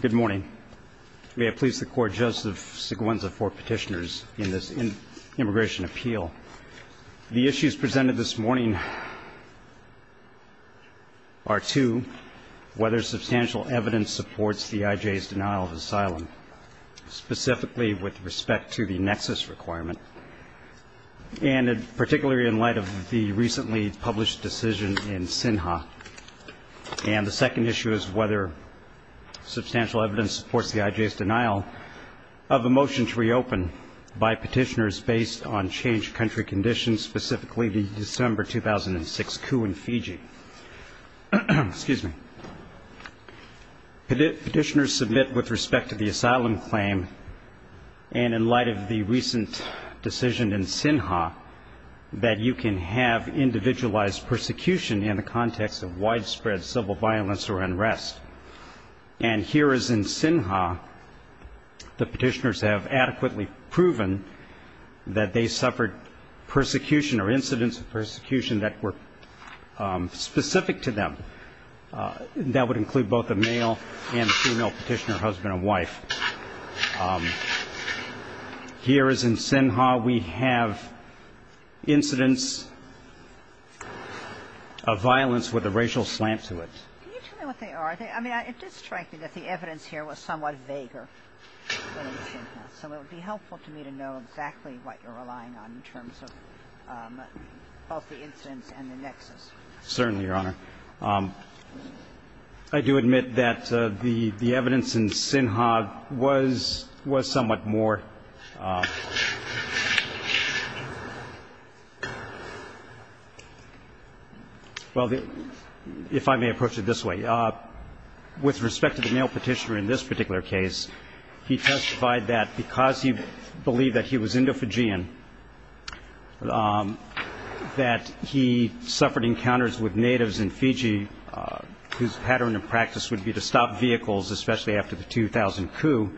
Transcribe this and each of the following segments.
Good morning. May I please the court, Joseph Seguenza for petitioners in this immigration appeal. The issues presented this morning are two, whether substantial evidence supports the IJ's denial of asylum, specifically with respect to the nexus requirement, and particularly in light of the recently published decision in SINHA. And the second issue is whether substantial evidence supports the IJ's denial of a motion to reopen by petitioners based on changed country conditions, specifically the December 2006 coup in Fiji. Petitioners submit with respect to the asylum claim, and in light of the recent decision in the context of widespread civil violence or unrest. And here as in SINHA, the petitioners have adequately proven that they suffered persecution or incidents of persecution that were specific to them. That would include both a male and a female petitioner, husband and wife. Here as in SINHA, we have incidents of violence with a racial slant to it. Can you tell me what they are? I mean, it did strike me that the evidence here was somewhat vaguer than in SINHA. So it would be helpful to me to know exactly what you're relying on in terms of both the incidents and the nexus. Certainly, Your Honor. I do admit that the evidence in SINHA was somewhat more Well, if I may approach it this way. With respect to the male petitioner in this particular case, he testified that because he believed that he was Indo-Fijian, that he suffered encounters with natives in Fiji whose pattern of practice would be to stop vehicles, especially after the 2000 coup.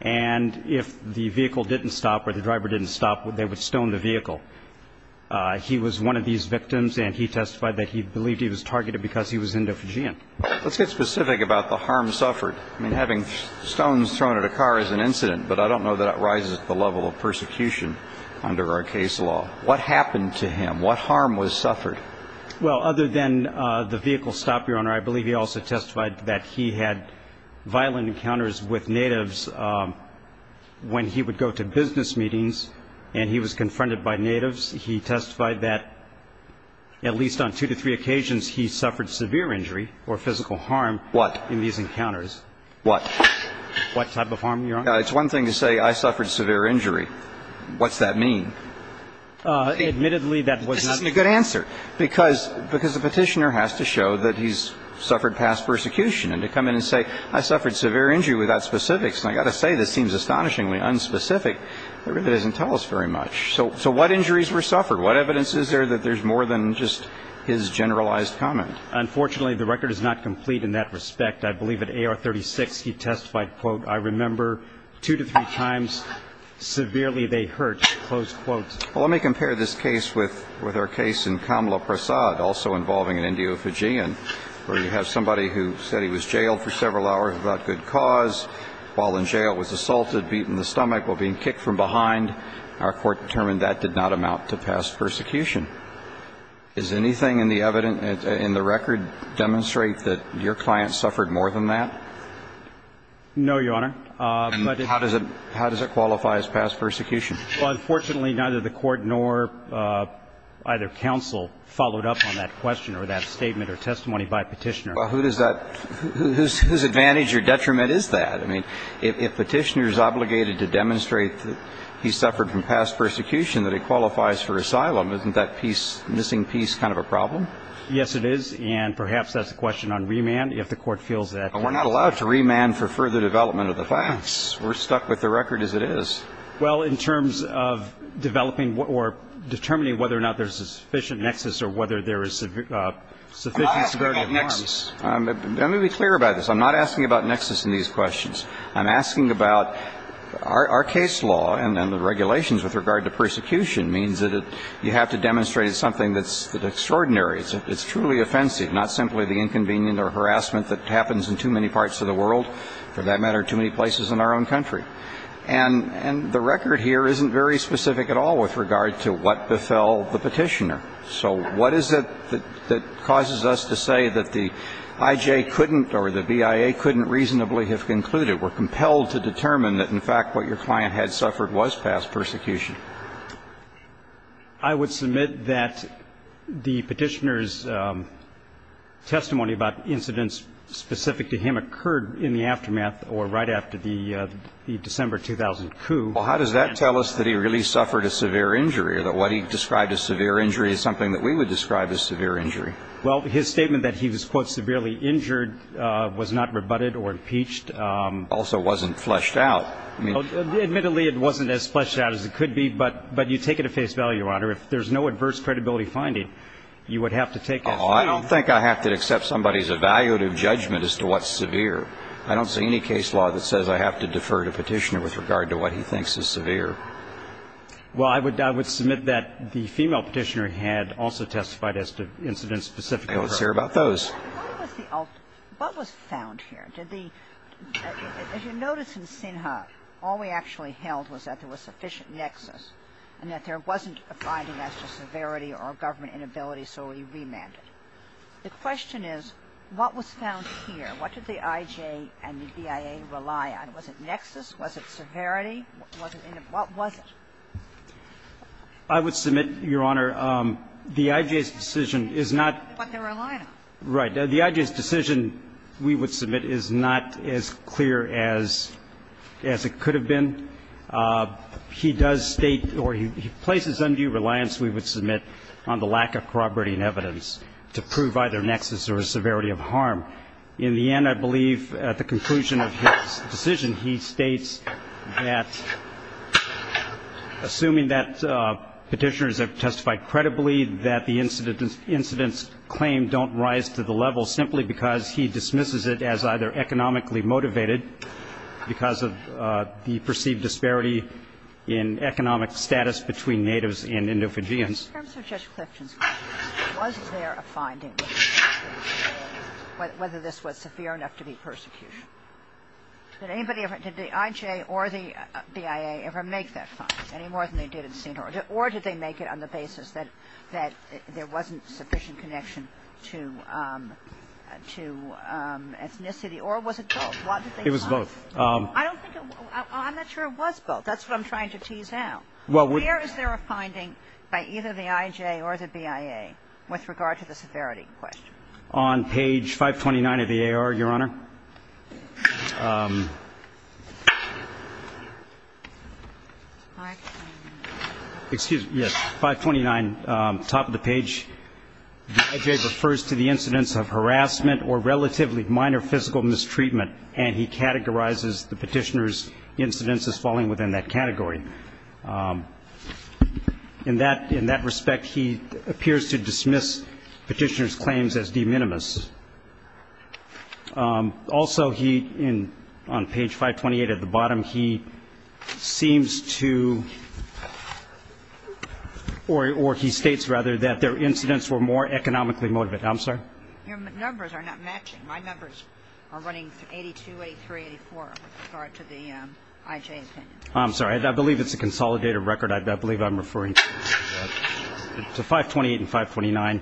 And if the vehicle didn't stop or the driver didn't stop, they would stone the vehicle. He was one of these victims and he testified that he believed he was targeted because he was Indo-Fijian. Let's get specific about the harm suffered. I mean, having stones thrown at a car is an incident, but I don't know that it rises to the level of persecution under our case law. What happened to him? What harm was suffered? Well, other than the vehicle stop, Your Honor, I believe he also testified that he had violent encounters with natives. He testified that, at least on two to three occasions, he suffered severe injury or physical harm in these encounters. What? What type of harm, Your Honor? It's one thing to say I suffered severe injury. What's that mean? Admittedly, that was not This isn't a good answer because the petitioner has to show that he's suffered past persecution. And to come in and say I suffered severe injury without specifics, and I've got to say this seems astonishingly specific, that really doesn't tell us very much. So what injuries were suffered? What evidence is there that there's more than just his generalized comment? Unfortunately, the record is not complete in that respect. I believe at A. R. 36, he testified, quote, I remember two to three times. Severely, they hurt. Close quote. Let me compare this case with with our case in Kamla Prasad, also involving an Indo-Fijian, where you have somebody who said he was jailed for several hours about good cause while in jail, was assaulted, beaten in the stomach, while being kicked from behind. Our Court determined that did not amount to past persecution. Is anything in the evidence, in the record, demonstrate that your client suffered more than that? No, Your Honor. But it's How does it qualify as past persecution? Well, unfortunately, neither the Court nor either counsel followed up on that question or that statement or testimony by a petitioner. Well, who does that Whose advantage or detriment is that? I mean, if petitioners are not able to prove that he was in the past, then he's obligated to demonstrate that he suffered from past persecution, that he qualifies for asylum. Isn't that piece, missing piece kind of a problem? Yes, it is. And perhaps that's a question on remand, if the Court feels that We're not allowed to remand for further development of the facts. We're stuck with the record as it is. Well, in terms of developing or determining whether or not there's a sufficient nexus or whether there is sufficient severity of harms I'm not asking about nexus. Let me be clear about this. I'm not asking about nexus in these questions. I'm asking about our case law and the regulations with regard to persecution means that you have to demonstrate something that's extraordinary. It's truly offensive, not simply the inconvenient or harassment that happens in too many parts of the world, for that matter, too many places in our own country. And the record here isn't very specific at all with regard to what befell the petitioner. So what is it that causes us to say that the IJ couldn't or the BIA couldn't reasonably have concluded, were compelled to determine that, in fact, what your client had suffered was past persecution? I would submit that the petitioner's testimony about incidents specific to him occurred in the aftermath or right after the December 2000 coup. Well, how does that tell us that he really suffered a severe injury or that what he described as severe injury is something that we would describe as severe injury? Well, his statement that he was, quote, severely injured was not rebutted or impeached. Also wasn't fleshed out. Admittedly, it wasn't as fleshed out as it could be, but you take it at face value, Your Honor. If there's no adverse credibility finding, you would have to take it at face value. I don't think I have to accept somebody's evaluative judgment as to what's severe. I don't see any case law that says I have to defer to petitioner with regard to what he thinks is severe. Well, I would submit that the female petitioner had also testified as to incidents specific to her. I don't see her about those. What was the ultimate – what was found here? Did the – as you notice in Sinha, all we actually held was that there was sufficient nexus and that there wasn't a finding as to severity or government inability, so we remanded. The question is, what was found here? What did the I.J. and the BIA rely on? Was it evidence or was it not? I would submit, Your Honor, the I.J.'s decision is not – But they're reliant. Right. The I.J.'s decision we would submit is not as clear as it could have been. He does state or he places undue reliance, we would submit, on the lack of corroborating evidence to prove either nexus or severity of harm. In the end, I believe, at the conclusion of his decision, he states that, assuming that Petitioners have testified credibly, that the incidents claimed don't rise to the level simply because he dismisses it as either economically motivated because of the perceived disparity in economic status between natives and endophagians. In terms of Judge Clifton's claim, was there a finding whether this was severe enough to be persecution? Did anybody ever – did the I.J. or the BIA ever make that find, any more than they did at the scene? Or did they make it on the basis that there wasn't sufficient connection to ethnicity? Or was it both? What did they find? It was both. I don't think – I'm not sure it was both. That's what I'm trying to tease out. Well, we – Was there a finding by either the I.J. or the BIA with regard to the severity question? On page 529 of the A.R., Your Honor, excuse me, yes, 529, top of the page, the I.J. refers to the incidents of harassment or relatively minor physical mistreatment. And he categorizes the Petitioners' incidents as falling within that category. And in that – in that respect, he appears to dismiss Petitioners' claims as de minimis. Also, he – on page 528 at the bottom, he seems to – or he states, rather, that their incidents were more economically motivated. I'm sorry? Your numbers are not matching. My numbers are running 82, 83, 84 with regard to the I.J. opinion. I'm sorry. I believe it's a consolidated record. I believe I'm referring to 528 and 529.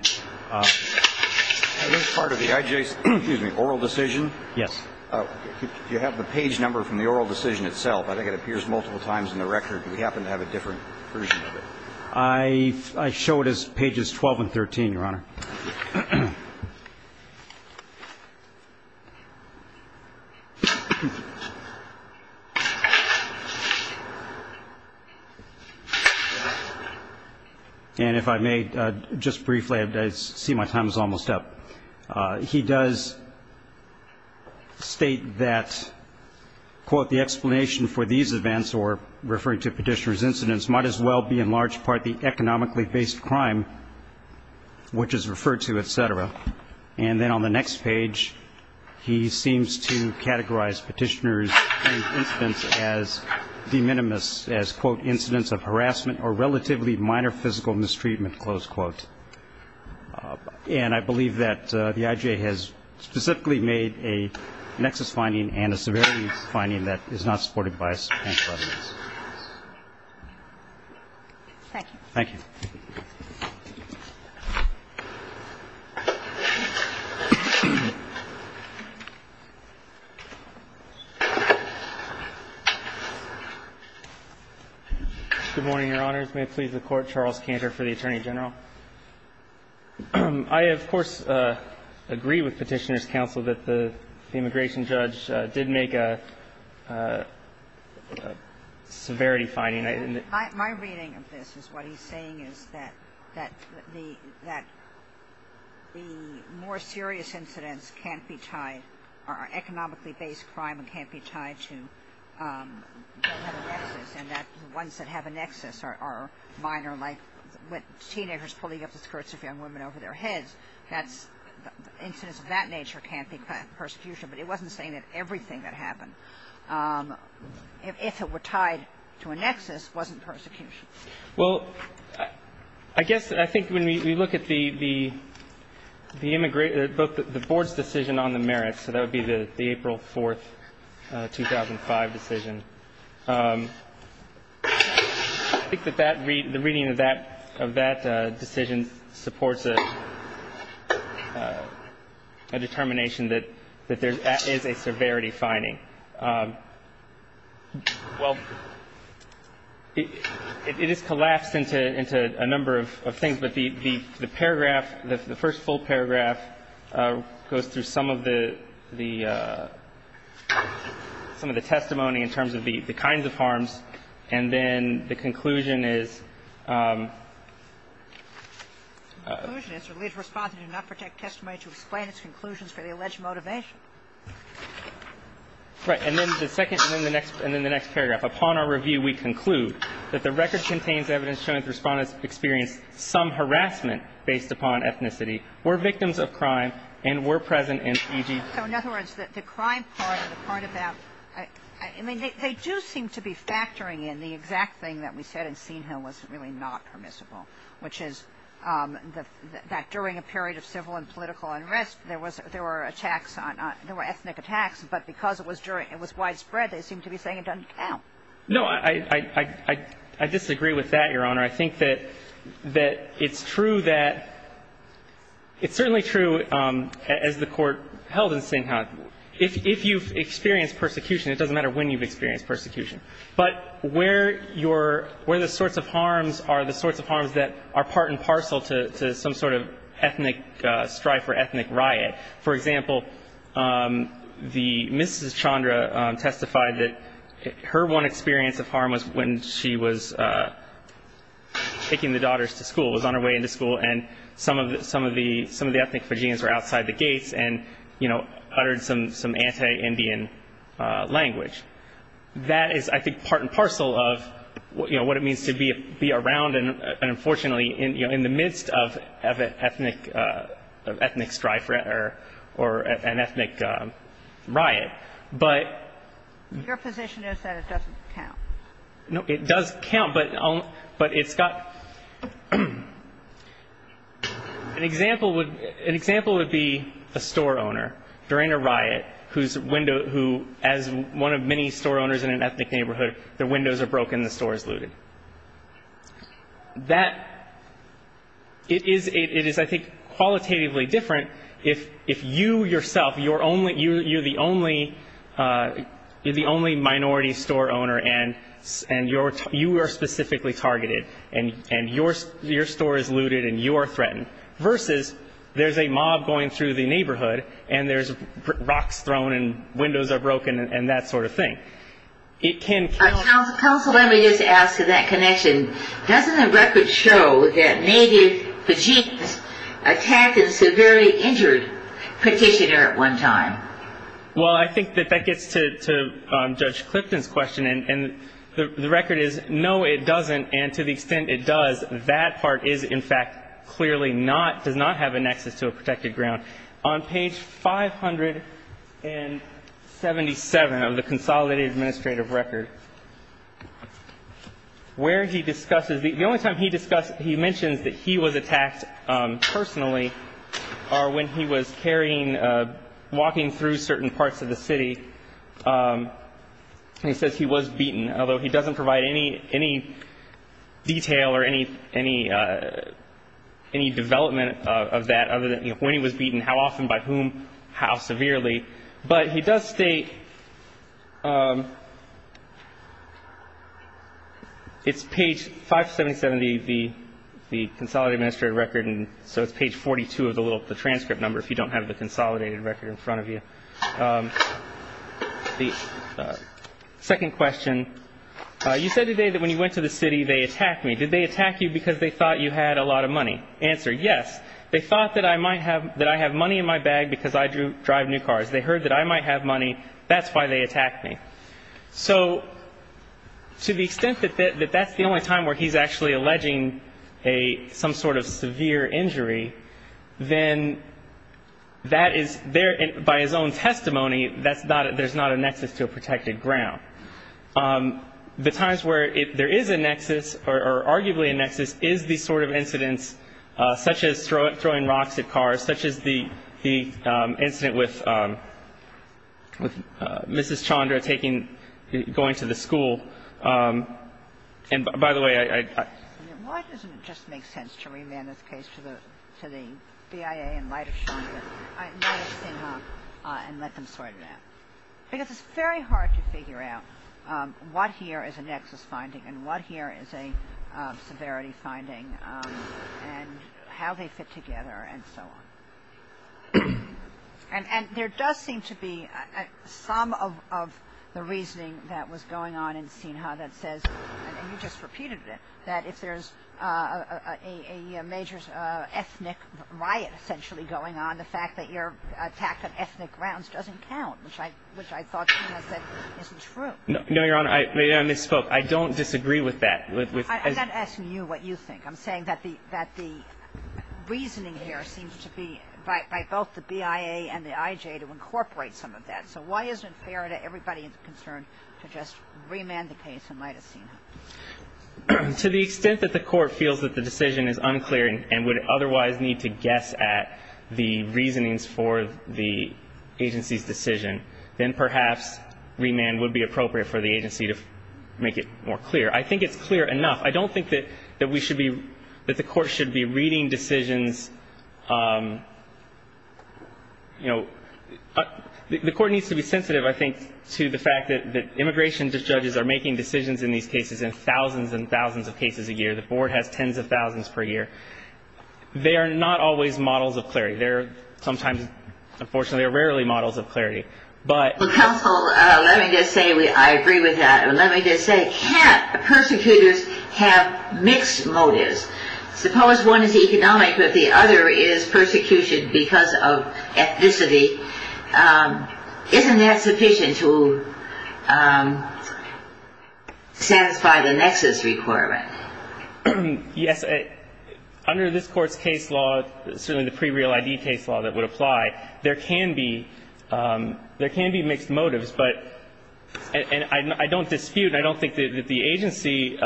Was part of the I.J.'s – excuse me – oral decision? Yes. Do you have the page number from the oral decision itself? I think it appears multiple times in the record. Do we happen to have a different version of it? I show it as pages 12 and 13, Your Honor. And if I may, just briefly, I see my time is almost up. He does state that, quote, the explanation for these events, or referring to Petitioners' incidents, might as well be, in large part, the economically based crime, which is referred to, et cetera. And then on the next page, he seems to categorize Petitioners' incidents as de minimis, as, quote, incidents of harassment or relatively minor physical mistreatment, close quote. And I believe that the I.J. has specifically made a nexus finding and a severity finding that is not supported by a subpoena for evidence. Thank you. Thank you. Good morning, Your Honors. May it please the Court, Charles Kantor for the Attorney General. I, of course, agree with Petitioners' counsel that the immigration judge did make a severity finding. My reading of this is what he's saying is that the more serious incidents can't be tied, are economically based crime and can't be tied to the nexus, and that ones that have a nexus are minor, like teenagers pulling up the skirts of young women over their heads. That's the incidents of that nature can't be prosecution. But he wasn't saying that everything that happened, if it were tied to a nexus, wasn't persecution. Well, I guess I think when we look at the immigration, the board's decision on the merits, so that would be the April 4th, 2005 decision, I think that that reading, the reading of that decision supports a determination that there is a severity finding. Well, it is collapsed into a number of things, but the paragraph, the first full paragraph, says that the record contains evidence showing that the Respondents experienced some harassment based upon ethnicity, were victims of crime, and were victims of sexual assault. So in other words, the crime part of that, I mean, they do seem to be factoring in the exact thing that we said in Senehill was really not permissible, which is that during a period of civil and political unrest, there were attacks on ethnic attacks, but because it was widespread, they seem to be saying it doesn't count. No. I disagree with that, Your Honor. I think that it's true that, it's certainly true, as the Court held in Senehill, if you've experienced persecution, it doesn't matter when you've experienced persecution, but where your, where the sorts of harms are, the sorts of harms that are part and parcel to some sort of ethnic strife or ethnic riot. For example, the, Mrs. Chandra testified that her one experience of harm was when she was taking the daughters to school, was on her way into school, and some of the ethnic Fijians were outside the gates and, you know, uttered some anti-Indian That is, I think, part and parcel of, you know, what it means to be around and unfortunately, you know, in the midst of an ethnic strife or an ethnic riot. But- Your position is that it doesn't count. No, it does count, but, but it's got, an example would, an example would be a store owner during a riot, whose window, who, as one of many store owners in an ethnic neighborhood, their windows are broken, the store is looted. That, it is, it is, I think, qualitatively different if, if you yourself, you're only, you, you're the only, you're the only minority store owner and, and you're, you are specifically targeted and, and your, your store is looted and you are threatened, versus there's a mob going through the neighborhood and there's rocks thrown and windows are broken and that sort of thing. It can- Counsel, let me just ask in that connection, doesn't the record show that maybe Pajeet attacked a severely injured petitioner at one time? Well, I think that that gets to, to Judge Clifton's question and the record is, no, it doesn't. And to the extent it does, that part is in fact, clearly not, does not have a nexus to a protected ground. On page 577 of the consolidated administrative record, where he discusses, the he was attacked personally, or when he was carrying, walking through certain parts of the city, he says he was beaten, although he doesn't provide any, any detail or any, any, any development of that other than when he was beaten, how often, by whom, how severely. But he does state, it's page 577 of the, the consolidated administrative record. And so it's page 42 of the little, the transcript number, if you don't have the consolidated record in front of you. The second question, you said today that when you went to the city, they attacked me. Did they attack you because they thought you had a lot of money? Answer, yes. They thought that I might have, that I have money in my bag because I drive new cars. They heard that I might have money. That's why they attacked me. So to the extent that that, that that's the only time where he's actually alleging a, some sort of severe injury, then that is there by his own testimony. That's not, there's not a nexus to a protected ground. The times where there is a nexus or arguably a nexus is the sort of incidents such as throwing rocks at cars, such as the, the incident with, with Mrs. Chandra taking, going to the school. And by the way, I, I, why doesn't it just make sense to remand this case to the, to the BIA in light of Chandra and let them sort it out? Because it's very hard to figure out what here is a nexus finding and what here is a severity finding and how they fit together and so on. And, and there does seem to be some of, of the reasoning that was going on in Sinha that says, and you just repeated it, that if there's a, a, a major ethnic riot essentially going on, the fact that you're attacked on ethnic grounds doesn't count, which I, which I thought Chandra said isn't true. No, no, Your Honor. I misspoke. I don't disagree with that. I'm not asking you what you think. I'm saying that the, that the reasoning here seems to be by, by both the BIA and the IJ to incorporate some of that. So why isn't it fair to everybody concerned to just remand the case in light of Sinha? To the extent that the court feels that the decision is unclear and would otherwise need to guess at the reasonings for the agency's decision, then perhaps remand would be appropriate for the agency to make it more clear. I think it's clear enough. I don't think that, that we should be, that the court should be reading decisions. You know, the court needs to be sensitive, I think, to the fact that, that immigration judges are making decisions in these cases in thousands and thousands of cases a year. The board has tens of thousands per year. They are not always models of clarity. They're sometimes, unfortunately, they're rarely models of clarity, but... Well, counsel, let me just say, I agree with that. Let me just say, can't persecutors have mixed motives? Suppose one is economic, but the other is persecution because of ethnicity. Isn't that sufficient to satisfy the nexus requirement? Yes. Under this court's case law, certainly the pre-real ID case law that would apply, there can be, there can be mixed motives, but, and I don't dispute, I don't think that the agency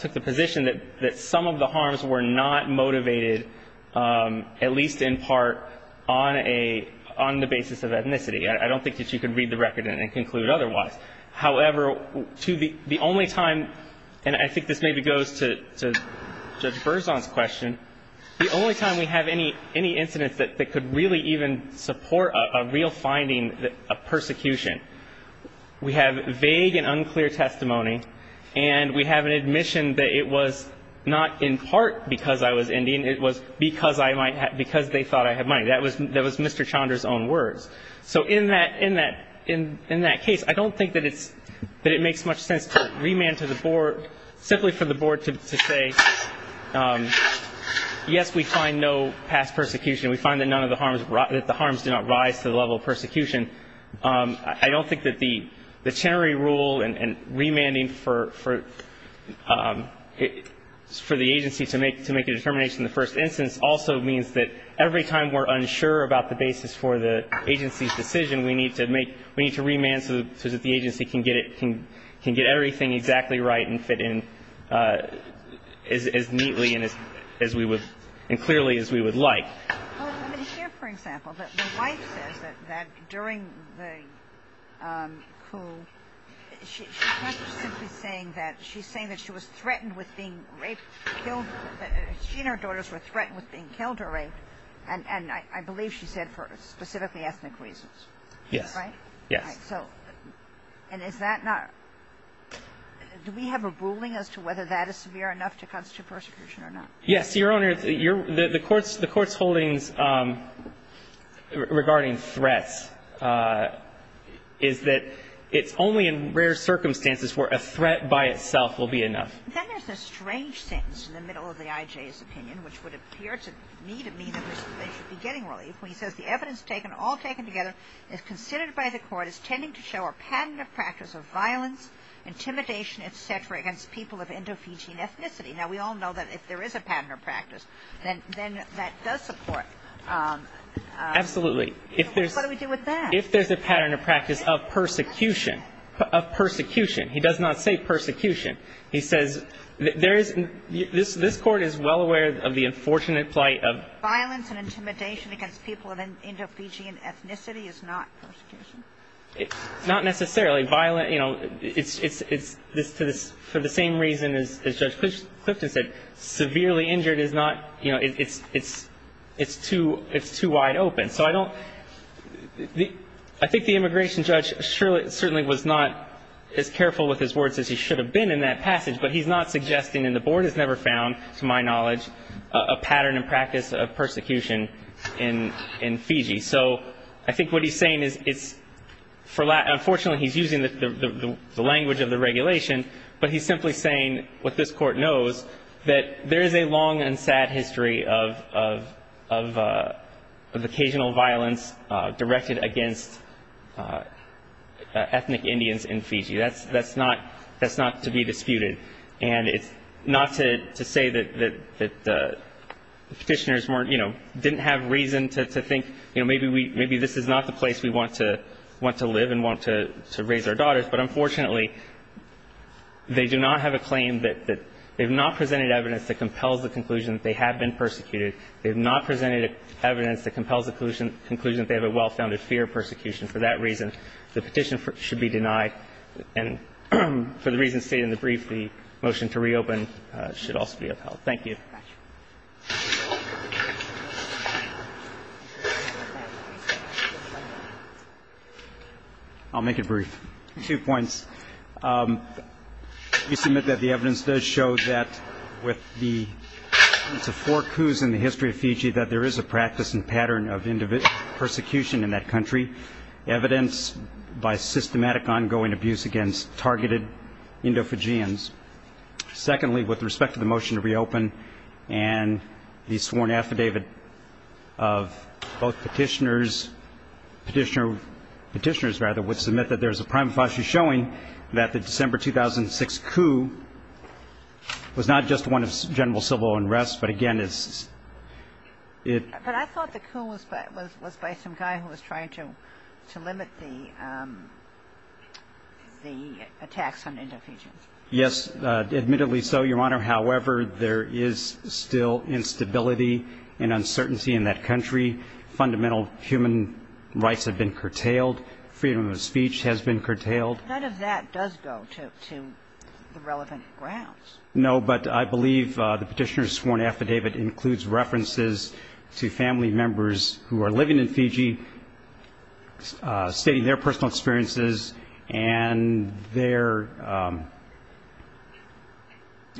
took the position that some of the harms were not motivated, at least in part, on a, on the basis of ethnicity. I don't think that you could read the record and conclude otherwise. However, to the only time, and I think this maybe goes to Judge Berzon's question, the only time we have any incidents that could really even support a real finding of persecution, we have vague and unclear testimony, and we have an admission that it was not in part because I was Indian, it was because I might have, because they thought I had money. That was, that was Mr. Chandra's own words. So in that, in that, in that case, I don't think that it's, that it makes much sense to remand to the board, simply for the board to, to say, yes, we find no past persecution. We find that none of the harms, that the harms did not rise to the level of persecution. I don't think that the, the Chenery rule and, and remanding for, for, for the agency to make, to make a determination in the first instance also means that every time we're unsure about the basis for the agency's decision, we need to make, we need to remand so, so that the agency can get it, can, can get everything exactly right and fit in as, as neatly and as, as we would, and clearly as we would like. Well, let me share, for example, that my wife says that, that during the coup, she, she's not simply saying that, she's saying that she was threatened with being raped, killed, that she and her daughters were threatened with being killed or raped, and, and I, I believe she said for specifically ethnic reasons. Yes. Right? Yes. Right, so, and is that not, do we have a ruling as to whether that is severe enough to constitute persecution or not? Yes, Your Honor, you're, the, the Court's, the Court's holdings regarding threats is that it's only in rare circumstances where a threat by itself will be enough. Then there's a strange sentence in the middle of the IJ's opinion, which would appear to me to mean that they should be getting relief, when he says the evidence taken, all taken together, is considered by the Court as tending to show a pattern of practice of violence, intimidation, et cetera, against people of Indo-Fijian ethnicity. Now, we all know that if there is a pattern of practice, then, then that does support Absolutely. If there's What do we do with that? If there's a pattern of practice of persecution, of persecution, he does not say persecution. He says there is, this, this Court is well aware of the unfortunate plight of violence and intimidation against people of Indo-Fijian ethnicity is not persecution. It's not necessarily violent, you know, it's, it's, it's, this, for the same reason as, as Judge Clifton said, severely injured is not, you know, it's, it's, it's too, it's too wide open. So I don't, the, I think the immigration judge surely, certainly was not as careful with his words as he should have been in that passage. But he's not suggesting, and the Board has never found, to my knowledge, a pattern and practice of persecution in, in Fiji. So I think what he's saying is it's, for, unfortunately he's using the, the, the, the language of the regulation, but he's simply saying what this Court knows, that there is a long and sad history of, of, of, of occasional violence directed against ethnic Indians in Fiji. That's, that's not, that's not to be disputed. And it's not to, to say that, that, that the Petitioners weren't, you know, didn't have reason to, to think, you know, maybe we, maybe this is not the place we want to, want to live and want to, to raise our daughters. But unfortunately, they do not have a claim that, that they have not presented evidence that compels the conclusion that they have been persecuted. They have not presented evidence that compels the conclusion, conclusion that they have a well-founded fear of persecution. For that reason, the petition should be denied. And for the reasons stated in the brief, the motion to reopen should also be upheld. Thank you. I'll make it brief. Two points. We submit that the evidence does show that with the, the four coups in the history of Fiji, that there is a practice and pattern of individual persecution in that country, evidence by systematic ongoing abuse against targeted Indo-Fijians. Secondly, with respect to the motion to reopen, and the sworn affidavit of both Petitioners, Petitioner, Petitioners rather, would submit that there is a prime philosophy showing that the December 2006 coup was not just one of general civil unrest, but again is, it. But I thought the coup was by, was, was by some guy who was trying to, to limit the, the attacks on Indo-Fijians. Yes, admittedly so, Your Honor. However, there is still instability and uncertainty in that country. Fundamental human rights have been curtailed. Freedom of speech has been curtailed. None of that does go to, to the relevant grounds. No, but I believe the Petitioner's sworn affidavit includes references to family members who are living in Fiji, stating their personal experiences and their,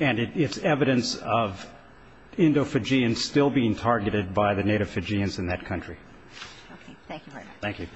and it's evidence of Indo-Fijians still being targeted by the Native Fijians in that country. Okay. Thank you, Your Honor.